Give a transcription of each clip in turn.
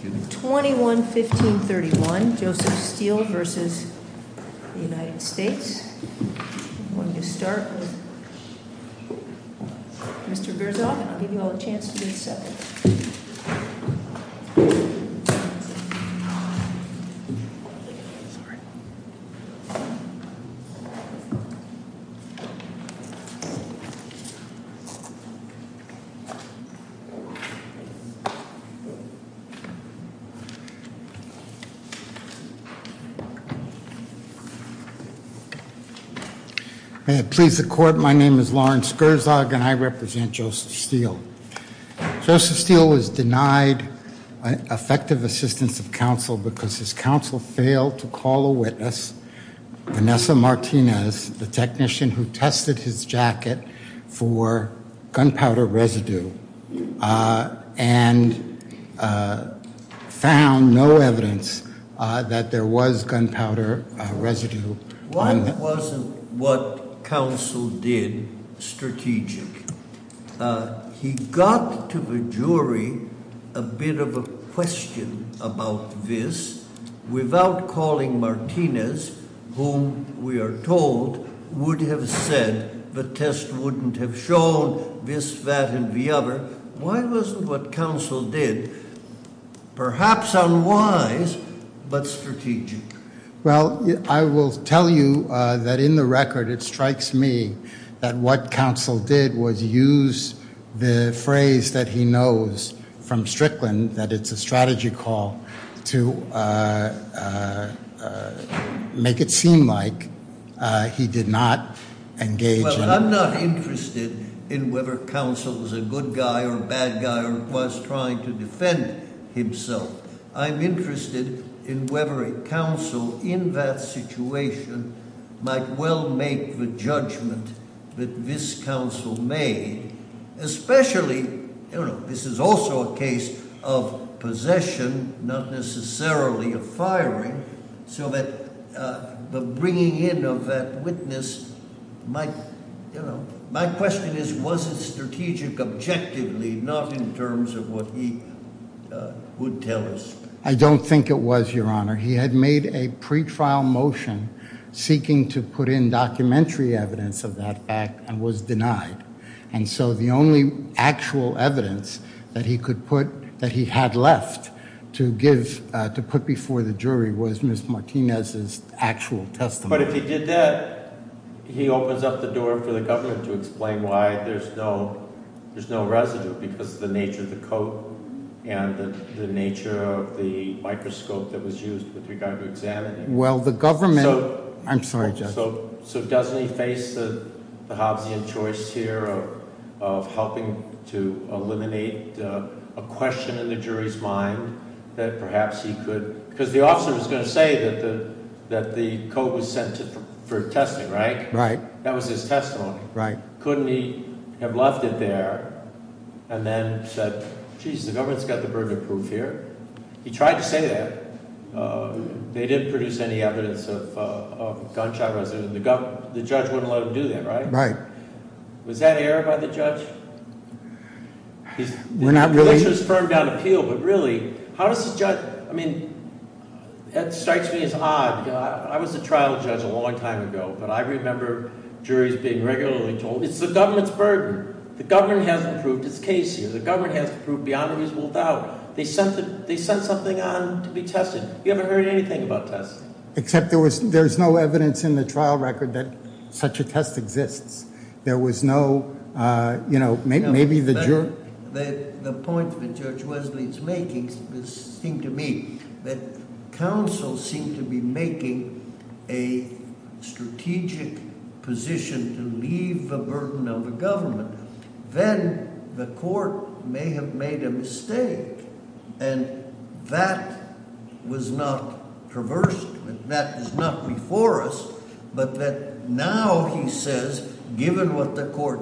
I'm going to start with Mr. Verzog, and I'll give you all a chance to do a second. May it please the court, my name is Lawrence Verzog, and I represent Joseph Steele. Joseph Steele was denied effective assistance of counsel because his counsel failed to call a witness, Vanessa Martinez, the technician who tested his jacket for gunpowder residue and found no evidence that there was gunpowder residue. Why wasn't what counsel did strategic? He got to the jury a bit of a question about this without calling Martinez, whom we are told would have said the test wouldn't have shown this, that, and the other. Why wasn't what counsel did perhaps unwise but strategic? Well, I will tell you that in the record it strikes me that what counsel did was use the phrase that he knows from Strickland, that it's a strategy call, to make it seem like he did not engage in- Well, I'm not interested in whether counsel was a good guy or a bad guy or was trying to defend himself. I'm interested in whether a counsel in that situation might well make the judgment that this counsel made. Especially, this is also a case of possession, not necessarily of firing, so that the bringing in of that witness might- I don't think it was, Your Honor. He had made a pretrial motion seeking to put in documentary evidence of that act and was denied. And so the only actual evidence that he had left to put before the jury was Ms. Martinez's actual testimony. But if he did that, he opens up the door for the government to explain why there's no residue, because of the nature of the coat and the nature of the microscope that was used with regard to examining. Well, the government- I'm sorry, Judge. So doesn't he face the Hobbesian choice here of helping to eliminate a question in the jury's mind that perhaps he could- because the officer was going to say that the coat was sent for testing, right? Right. That was his testimony. Right. So wouldn't he have left it there and then said, geez, the government's got the burden of proof here? He tried to say that. They didn't produce any evidence of gunshot residue. The judge wouldn't let him do that, right? Right. Was that aired by the judge? We're not really- Which was firmed on appeal, but really, how does the judge- I mean, that strikes me as odd. I was a trial judge a long time ago, but I remember juries being regularly told, it's the government's burden. The government hasn't proved its case here. The government hasn't proved beyond a reasonable doubt. They sent something on to be tested. You haven't heard anything about tests. Except there's no evidence in the trial record that such a test exists. There was no- maybe the jury- The point that Judge Wesley is making seemed to me that counsel seemed to be making a strategic position to leave the burden of the government. Then the court may have made a mistake, and that was not traversed. That is not before us. But that now, he says, given what the court-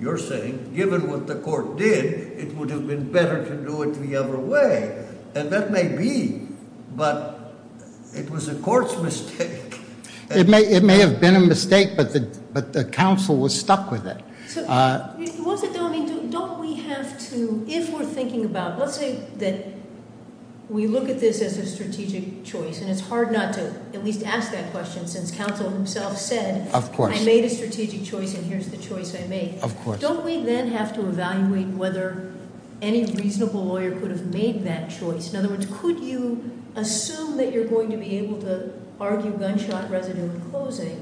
you're saying- given what the court did, it would have been better to do it the other way. And that may be, but it was the court's mistake. It may have been a mistake, but the counsel was stuck with it. It wasn't- don't we have to- if we're thinking about- let's say that we look at this as a strategic choice, and it's hard not to at least ask that question since counsel himself said- Of course. I made a strategic choice, and here's the choice I made. Of course. Don't we then have to evaluate whether any reasonable lawyer could have made that choice? In other words, could you assume that you're going to be able to argue gunshot residue in closing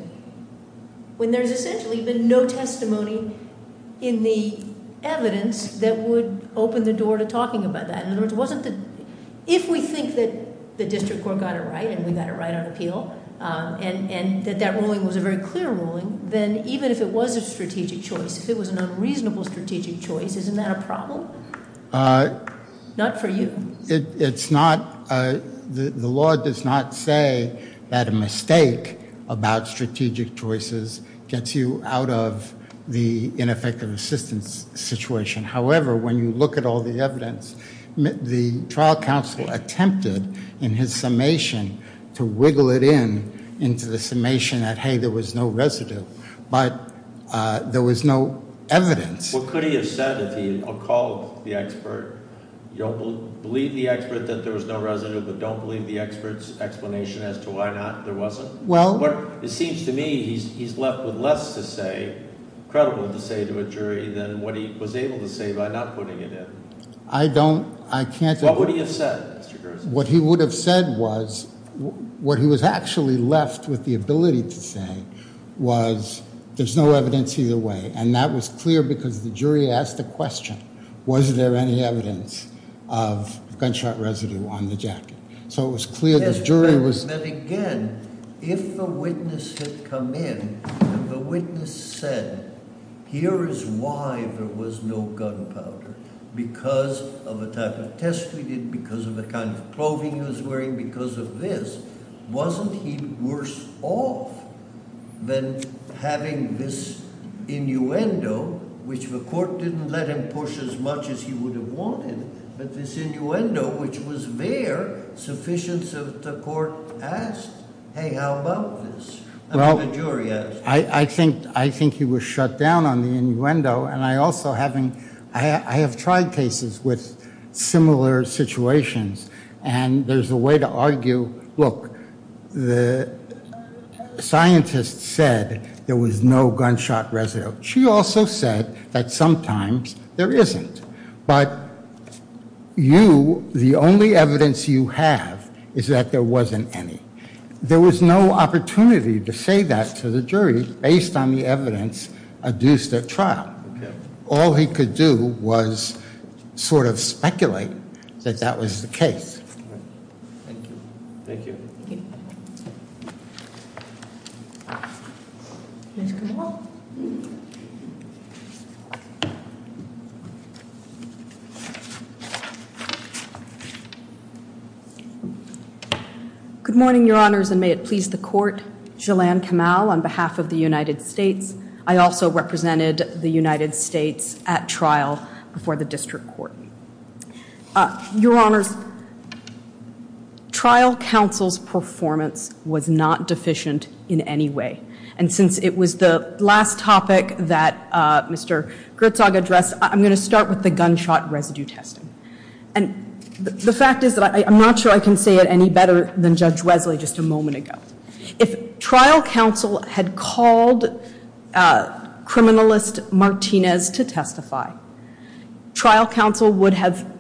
when there's essentially been no testimony in the evidence that would open the door to talking about that? In other words, if we think that the district court got it right, and we got it right on appeal, and that that ruling was a very clear ruling, then even if it was a strategic choice, if it was an unreasonable strategic choice, isn't that a problem? Not for you. It's not- the law does not say that a mistake about strategic choices gets you out of the ineffective assistance situation. However, when you look at all the evidence, the trial counsel attempted, in his summation, to wiggle it in into the summation that, hey, there was no residue, but there was no evidence. What could he have said if he had called the expert? You don't believe the expert that there was no residue, but don't believe the expert's explanation as to why not there wasn't? Well- It seems to me he's left with less to say, credible to say to a jury, than what he was able to say by not putting it in. I don't- I can't- What would he have said, Mr. Gerson? What he would have said was- what he was actually left with the ability to say was, there's no evidence either way, and that was clear because the jury asked the question, was there any evidence of gunshot residue on the jacket? So it was clear the jury was- Then again, if the witness had come in and the witness said, here is why there was no gunpowder, because of a type of test we did, because of the kind of clothing he was wearing, because of this, wasn't he worse off than having this innuendo, which the court didn't let him push as much as he would have wanted, but this innuendo, which was there, sufficient so that the court asked, hey, how about this? Well- And then the jury asked. I think he was shut down on the innuendo, and I also haven't- I have tried cases with similar situations, and there's a way to argue, look, the scientist said there was no gunshot residue. She also said that sometimes there isn't, but you, the only evidence you have is that there wasn't any. There was no opportunity to say that to the jury based on the evidence adduced at trial. All he could do was sort of speculate that that was the case. Thank you. Thank you. Good morning, Your Honors, and may it please the court. Jalan Kamal on behalf of the United States. I also represented the United States at trial before the district court. Your Honors, trial counsel's performance was not deficient in any way, and since it was the last topic that Mr. Gertzog addressed, I'm going to start with the gunshot residue testing. And the fact is that I'm not sure I can say it any better than Judge Wesley just a moment ago. If trial counsel had called criminalist Martinez to testify, trial counsel would have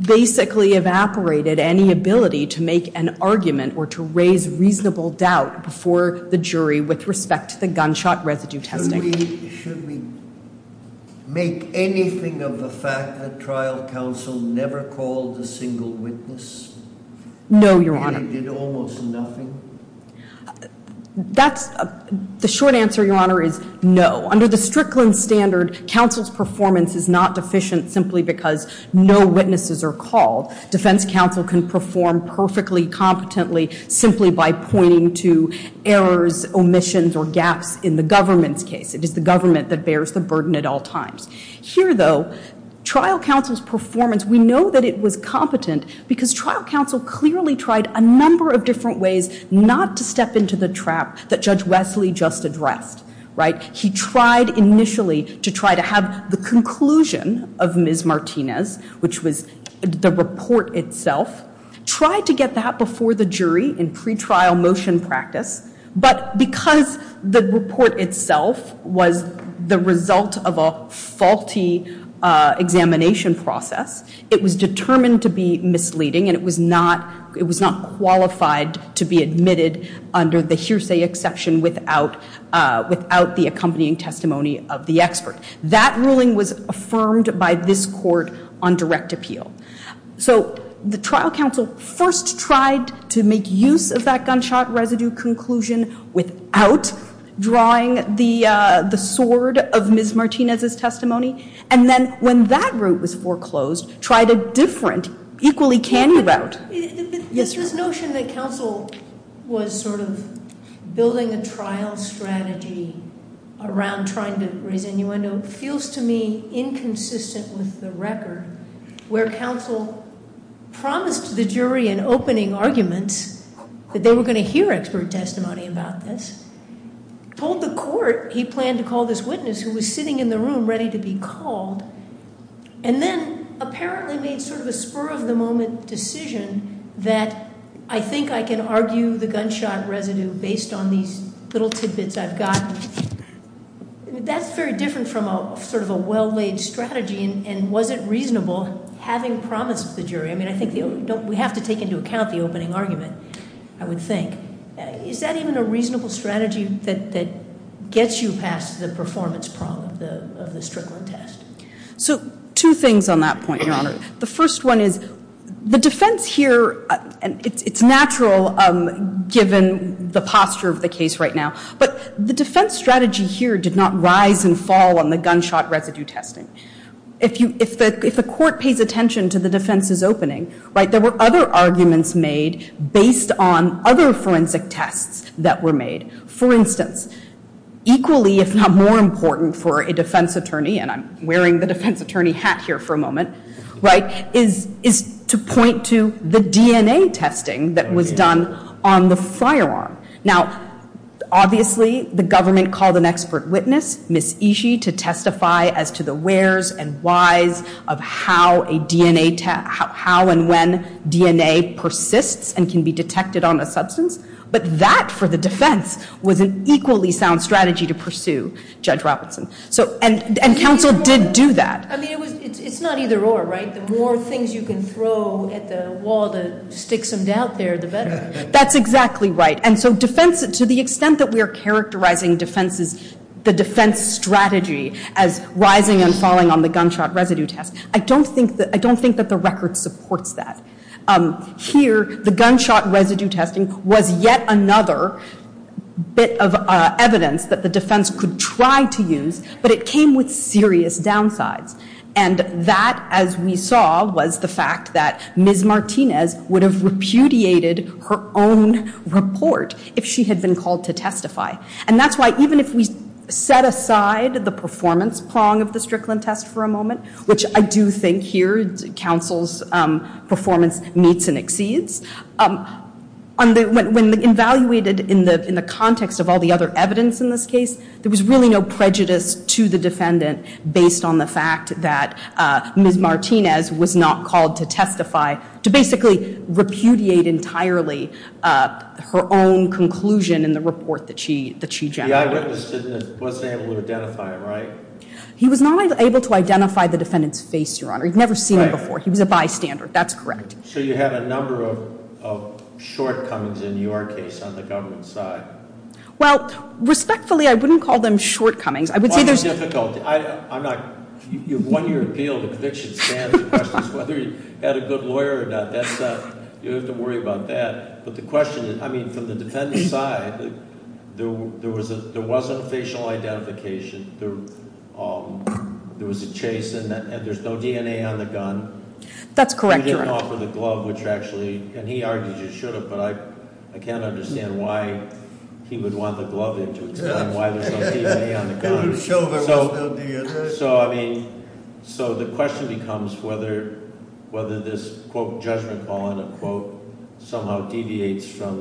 basically evaporated any ability to make an argument or to raise reasonable doubt before the jury with respect to the gunshot residue testing. Should we make anything of the fact that trial counsel never called a single witness? No, Your Honor. And he did almost nothing? The short answer, Your Honor, is no. Under the Strickland standard, counsel's performance is not deficient simply because no witnesses are called. Defense counsel can perform perfectly competently simply by pointing to errors, omissions, or gaps in the government's case. It is the government that bears the burden at all times. Here, though, trial counsel's performance, we know that it was competent because trial counsel clearly tried a number of different ways not to step into the trap that Judge Wesley just addressed, right? He tried initially to try to have the conclusion of Ms. Martinez, which was the report itself, try to get that before the jury in pretrial motion practice. But because the report itself was the result of a faulty examination process, it was determined to be misleading and it was not qualified to be admitted under the hearsay exception without the accompanying testimony of the expert. That ruling was affirmed by this court on direct appeal. So the trial counsel first tried to make use of that gunshot residue conclusion without drawing the sword of Ms. Martinez's testimony. And then when that group was foreclosed, tried a different, equally canny route. Yes, sir? This notion that counsel was sort of building a trial strategy around trying to raise innuendo feels to me inconsistent with the record where counsel promised the jury in opening arguments that they were going to hear expert testimony about this, told the court he planned to call this witness who was sitting in the room ready to be called, and then apparently made sort of a spur-of-the-moment decision that I think I can argue the gunshot residue based on these little tidbits I've gotten. That's very different from sort of a well-laid strategy and wasn't reasonable having promised the jury. I mean, I think we have to take into account the opening argument, I would think. Is that even a reasonable strategy that gets you past the performance problem of the Strickland test? So two things on that point, Your Honor. The first one is the defense here, and it's natural given the posture of the case right now, but the defense strategy here did not rise and fall on the gunshot residue testing. If the court pays attention to the defense's opening, right, there were other arguments made based on other forensic tests that were made. For instance, equally if not more important for a defense attorney, and I'm wearing the defense attorney hat here for a moment, right, is to point to the DNA testing that was done on the firearm. Now, obviously the government called an expert witness, Ms. Ishii, to testify as to the where's and why's of how and when DNA persists and can be detected on a substance, but that for the defense was an equally sound strategy to pursue, Judge Robertson. And counsel did do that. I mean, it's not either or, right? The more things you can throw at the wall to stick some doubt there, the better. That's exactly right. And so defense, to the extent that we are characterizing defenses, the defense strategy as rising and falling on the gunshot residue test, I don't think that the record supports that. Here, the gunshot residue testing was yet another bit of evidence that the defense could try to use, but it came with serious downsides, and that, as we saw, was the fact that Ms. Martinez would have repudiated her own report if she had been called to testify. And that's why even if we set aside the performance prong of the Strickland test for a moment, which I do think here counsel's performance meets and exceeds, when evaluated in the context of all the other evidence in this case, there was really no prejudice to the defendant based on the fact that Ms. Martinez was not called to testify, to basically repudiate entirely her own conclusion in the report that she generated. Yeah, I witnessed it and wasn't able to identify him, right? He was not able to identify the defendant's face, Your Honor. You've never seen him before. He was a bystander. That's correct. So you have a number of shortcomings in your case on the government side. Well, respectfully, I wouldn't call them shortcomings. I would say there's- Why is it difficult? You have one year appeal. The conviction stands. The question is whether you had a good lawyer or not. You don't have to worry about that. But the question is, I mean, from the defendant's side, there wasn't facial identification. There was a chase, and there's no DNA on the gun. That's correct, Your Honor. And he didn't offer the glove, which actually, and he argued you should have, but I can't understand why he would want the glove in to explain why there's no DNA on the gun. He showed there was no DNA. So, I mean, so the question becomes whether this, quote, judgment call in a quote, somehow deviates from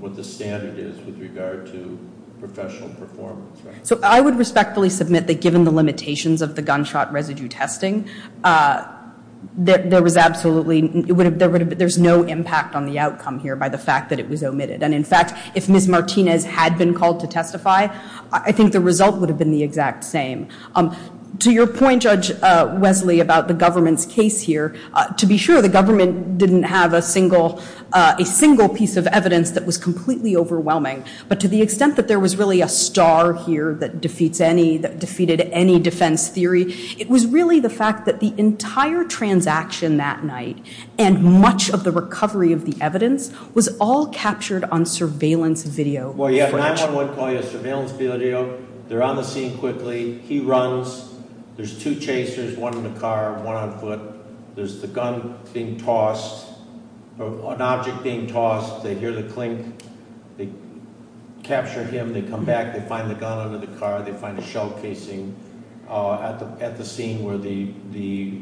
what the standard is with regard to professional performance. So I would respectfully submit that given the limitations of the gunshot residue testing, there was absolutely, there's no impact on the outcome here by the fact that it was omitted. And, in fact, if Ms. Martinez had been called to testify, I think the result would have been the exact same. To your point, Judge Wesley, about the government's case here, to be sure, the government didn't have a single piece of evidence that was completely overwhelming. But to the extent that there was really a star here that defeats any, that defeated any defense theory, it was really the fact that the entire transaction that night, and much of the recovery of the evidence, was all captured on surveillance video. Well, yeah, 9-1-1 call you surveillance video. They're on the scene quickly. He runs. There's two chasers, one in the car, one on foot. There's the gun being tossed, an object being tossed. They hear the clink. They capture him. They come back. They find the gun under the car. They find a shell casing at the scene where the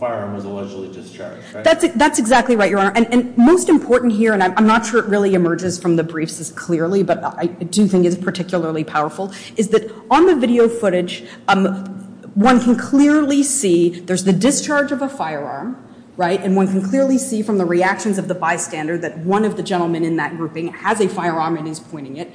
firearm was allegedly discharged. That's exactly right, Your Honor. And most important here, and I'm not sure it really emerges from the briefs as clearly, but I do think it's particularly powerful, is that on the video footage, one can clearly see there's the discharge of a firearm, right, and one can clearly see from the reactions of the bystander that one of the gentlemen in that grouping has a firearm and is pointing it.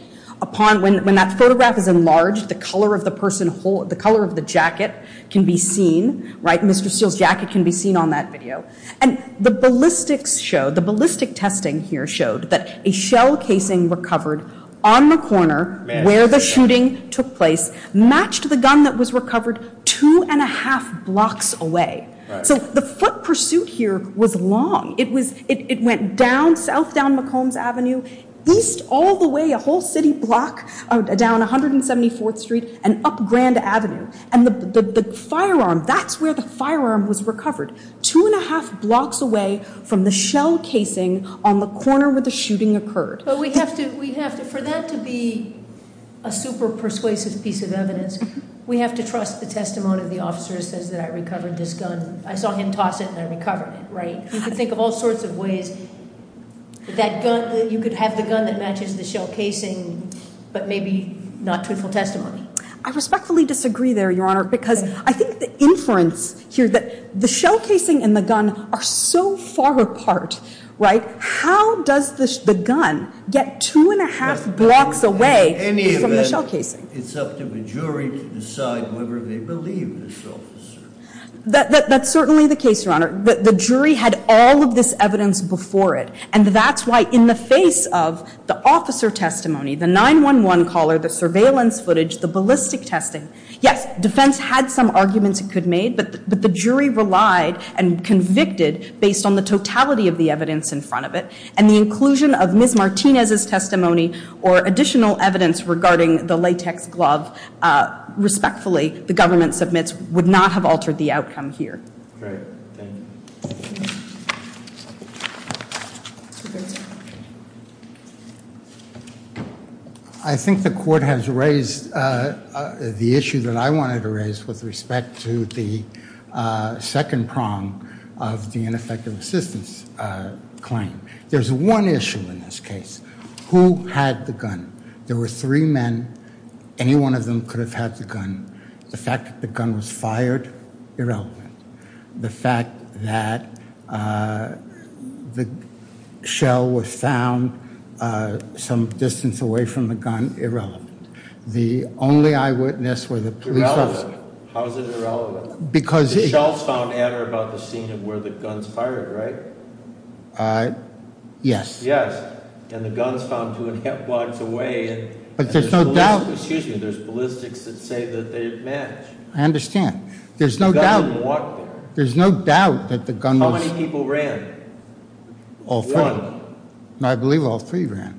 When that photograph is enlarged, the color of the jacket can be seen, right? Mr. Steele's jacket can be seen on that video. And the ballistic testing here showed that a shell casing recovered on the corner where the shooting took place matched the gun that was recovered two and a half blocks away. So the foot pursuit here was long. It went south down McCombs Avenue, east all the way, a whole city block down 174th Street and up Grand Avenue. And the firearm, that's where the firearm was recovered, two and a half blocks away from the shell casing on the corner where the shooting occurred. But we have to, for that to be a super persuasive piece of evidence, we have to trust the testimony of the officer who says that I recovered this gun. I saw him toss it and I recovered it, right? You can think of all sorts of ways that you could have the gun that matches the shell casing but maybe not truthful testimony. I respectfully disagree there, Your Honor, because I think the inference here that the shell casing and the gun are so far apart, right? How does the gun get two and a half blocks away from the shell casing? In any event, it's up to the jury to decide whether they believe this officer. That's certainly the case, Your Honor. The jury had all of this evidence before it. And that's why in the face of the officer testimony, the 911 caller, the surveillance footage, the ballistic testing, yes, defense had some arguments it could have made, but the jury relied and convicted based on the totality of the evidence in front of it. And the inclusion of Ms. Martinez's testimony or additional evidence regarding the latex glove, respectfully, the government submits would not have altered the outcome here. Great. Thank you. I think the court has raised the issue that I wanted to raise with respect to the second prong of the ineffective assistance claim. There's one issue in this case. Who had the gun? There were three men. Any one of them could have had the gun. The fact that the gun was fired? Irrelevant. The fact that the shell was found some distance away from the gun? Irrelevant. The only eyewitness were the police officers. Irrelevant? How is it irrelevant? Because- The shells found adder about the scene of where the guns fired, right? Yes. And the guns found two and a half blocks away. But there's no doubt- Excuse me, there's ballistics that say that they match. I understand. There's no doubt- The gun didn't walk there. There's no doubt that the gun was- How many people ran? All three. One. I believe all three ran.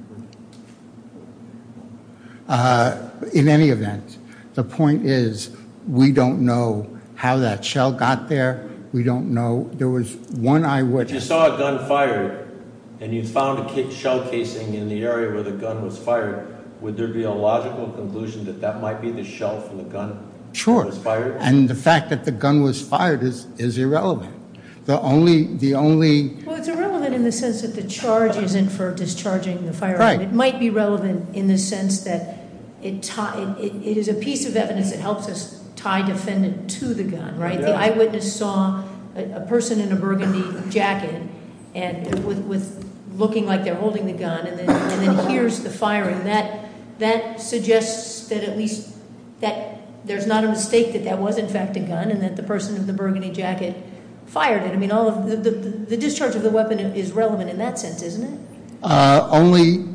In any event, the point is we don't know how that shell got there. We don't know. There was one eyewitness- If you saw a gun fired and you found a shell casing in the area where the gun was fired, would there be a logical conclusion that that might be the shell from the gun that was fired? Sure. And the fact that the gun was fired is irrelevant. The only- Well, it's irrelevant in the sense that the charge is inferred as charging the firearm. It might be relevant in the sense that it is a piece of evidence that helps us tie defendant to the gun, right? The eyewitness saw a person in a burgundy jacket looking like they're holding the gun and then hears the firing. That suggests that at least there's not a mistake that that was in fact a gun and that the person in the burgundy jacket fired it. The discharge of the weapon is relevant in that sense, isn't it?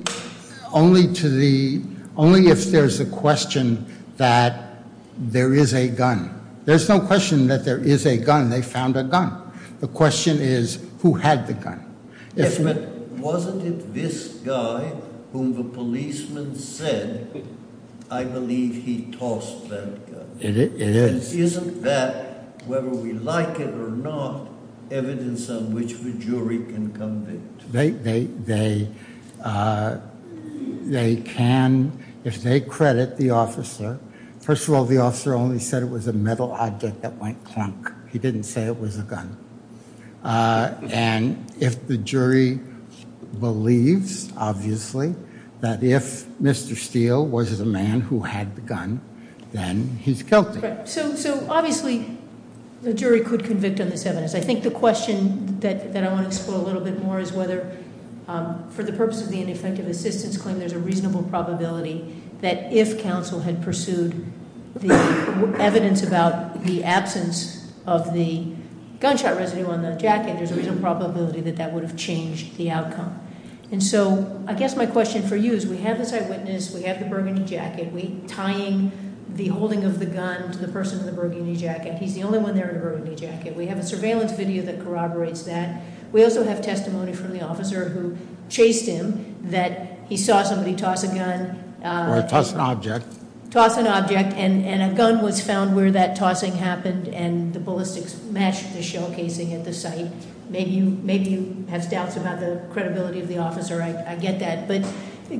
Only if there's a question that there is a gun. There's no question that there is a gun. They found a gun. The question is who had the gun. Yes, but wasn't it this guy whom the policeman said, I believe he tossed that gun? It is. And isn't that, whether we like it or not, evidence on which the jury can convict? They can, if they credit the officer. First of all, the officer only said it was a metal object that went clunk. He didn't say it was a gun. And if the jury believes, obviously, that if Mr. Steele was the man who had the gun, then he's guilty. So, obviously, the jury could convict on this evidence. I think the question that I want to explore a little bit more is whether, for the purpose of the ineffective assistance claim, there's a reasonable probability that if counsel had pursued the evidence about the absence of the gunshot residue on the jacket, there's a reasonable probability that that would have changed the outcome. And so I guess my question for you is we have this eyewitness. We have the burgundy jacket. We're tying the holding of the gun to the person in the burgundy jacket. He's the only one there in a burgundy jacket. We have a surveillance video that corroborates that. We also have testimony from the officer who chased him, that he saw somebody toss a gun. Or toss an object. Toss an object, and a gun was found where that tossing happened, and the ballistics matched the shell casing at the site. Maybe you have doubts about the credibility of the officer. I get that. But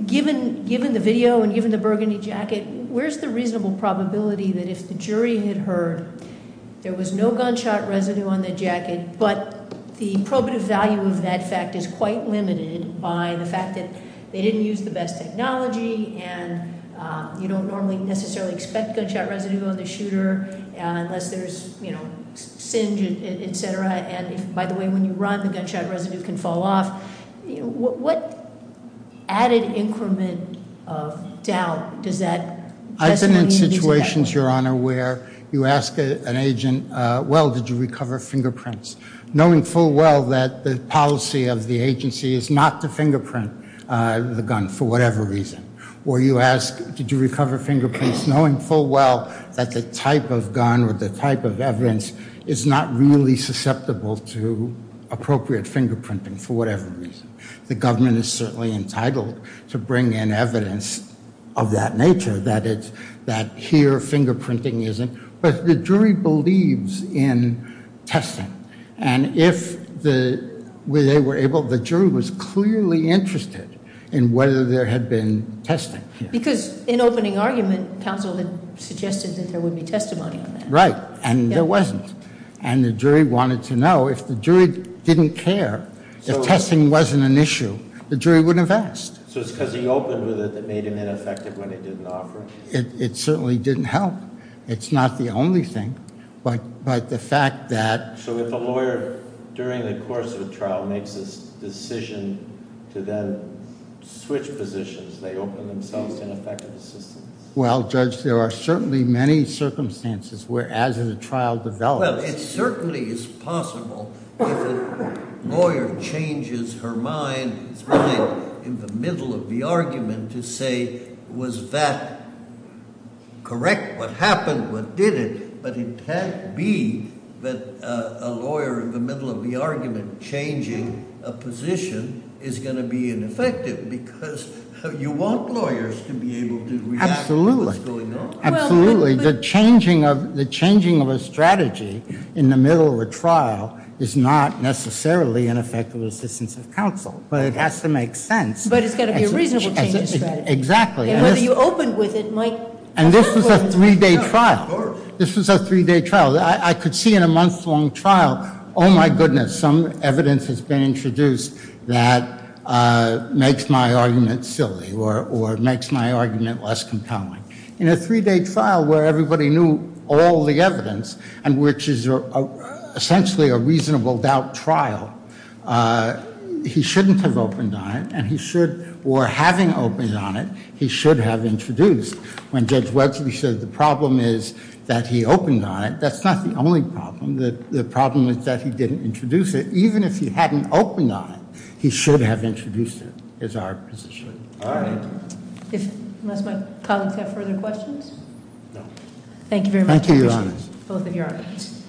given the video and given the burgundy jacket, where's the reasonable probability that if the jury had heard there was no gunshot residue on the jacket, but the probative value of that fact is quite limited by the fact that they didn't use the best technology, and you don't normally necessarily expect gunshot residue on the shooter unless there's singe, et cetera. And by the way, when you run, the gunshot residue can fall off. What added increment of doubt does that testimony need to be- I've been in situations, Your Honor, where you ask an agent, well, did you recover fingerprints? Knowing full well that the policy of the agency is not to fingerprint the gun for whatever reason. Or you ask, did you recover fingerprints? Knowing full well that the type of gun or the type of evidence is not really susceptible to appropriate fingerprinting for whatever reason. The government is certainly entitled to bring in evidence of that nature, that here fingerprinting isn't- But the jury believes in testing. And if they were able, the jury was clearly interested in whether there had been testing. Because in opening argument, counsel had suggested that there would be testimony on that. Right, and there wasn't. And the jury wanted to know if the jury didn't care, if testing wasn't an issue, the jury wouldn't have asked. So it's because he opened with it that made it ineffective when it didn't offer it? It certainly didn't help. It's not the only thing. But the fact that- So if a lawyer, during the course of a trial, makes a decision to then switch positions, they open themselves to ineffective assistance? Well, Judge, there are certainly many circumstances where, as a trial develops- Well, it certainly is possible if a lawyer changes her mind, his mind in the middle of the argument, to say, was that correct, what happened, what did it? But it can't be that a lawyer in the middle of the argument changing a position is going to be ineffective, because you want lawyers to be able to react to what's going on. Absolutely, absolutely. The changing of a strategy in the middle of a trial is not necessarily an effective assistance of counsel. But it has to make sense. But it's got to be a reasonable change of strategy. Exactly. And whether you opened with it might- And this was a three-day trial. This was a three-day trial. I could see in a month-long trial, oh, my goodness, some evidence has been introduced that makes my argument silly, or makes my argument less compelling. In a three-day trial where everybody knew all the evidence, and which is essentially a reasonable doubt trial, he shouldn't have opened on it, and he should, or having opened on it, he should have introduced. When Judge Wetzel says the problem is that he opened on it, that's not the only problem. The problem is that he didn't introduce it. Even if he hadn't opened on it, he should have introduced it, is our position. All right. Unless my colleagues have further questions? No. Thank you very much. Thank you, Your Honor. Appreciate both of your arguments.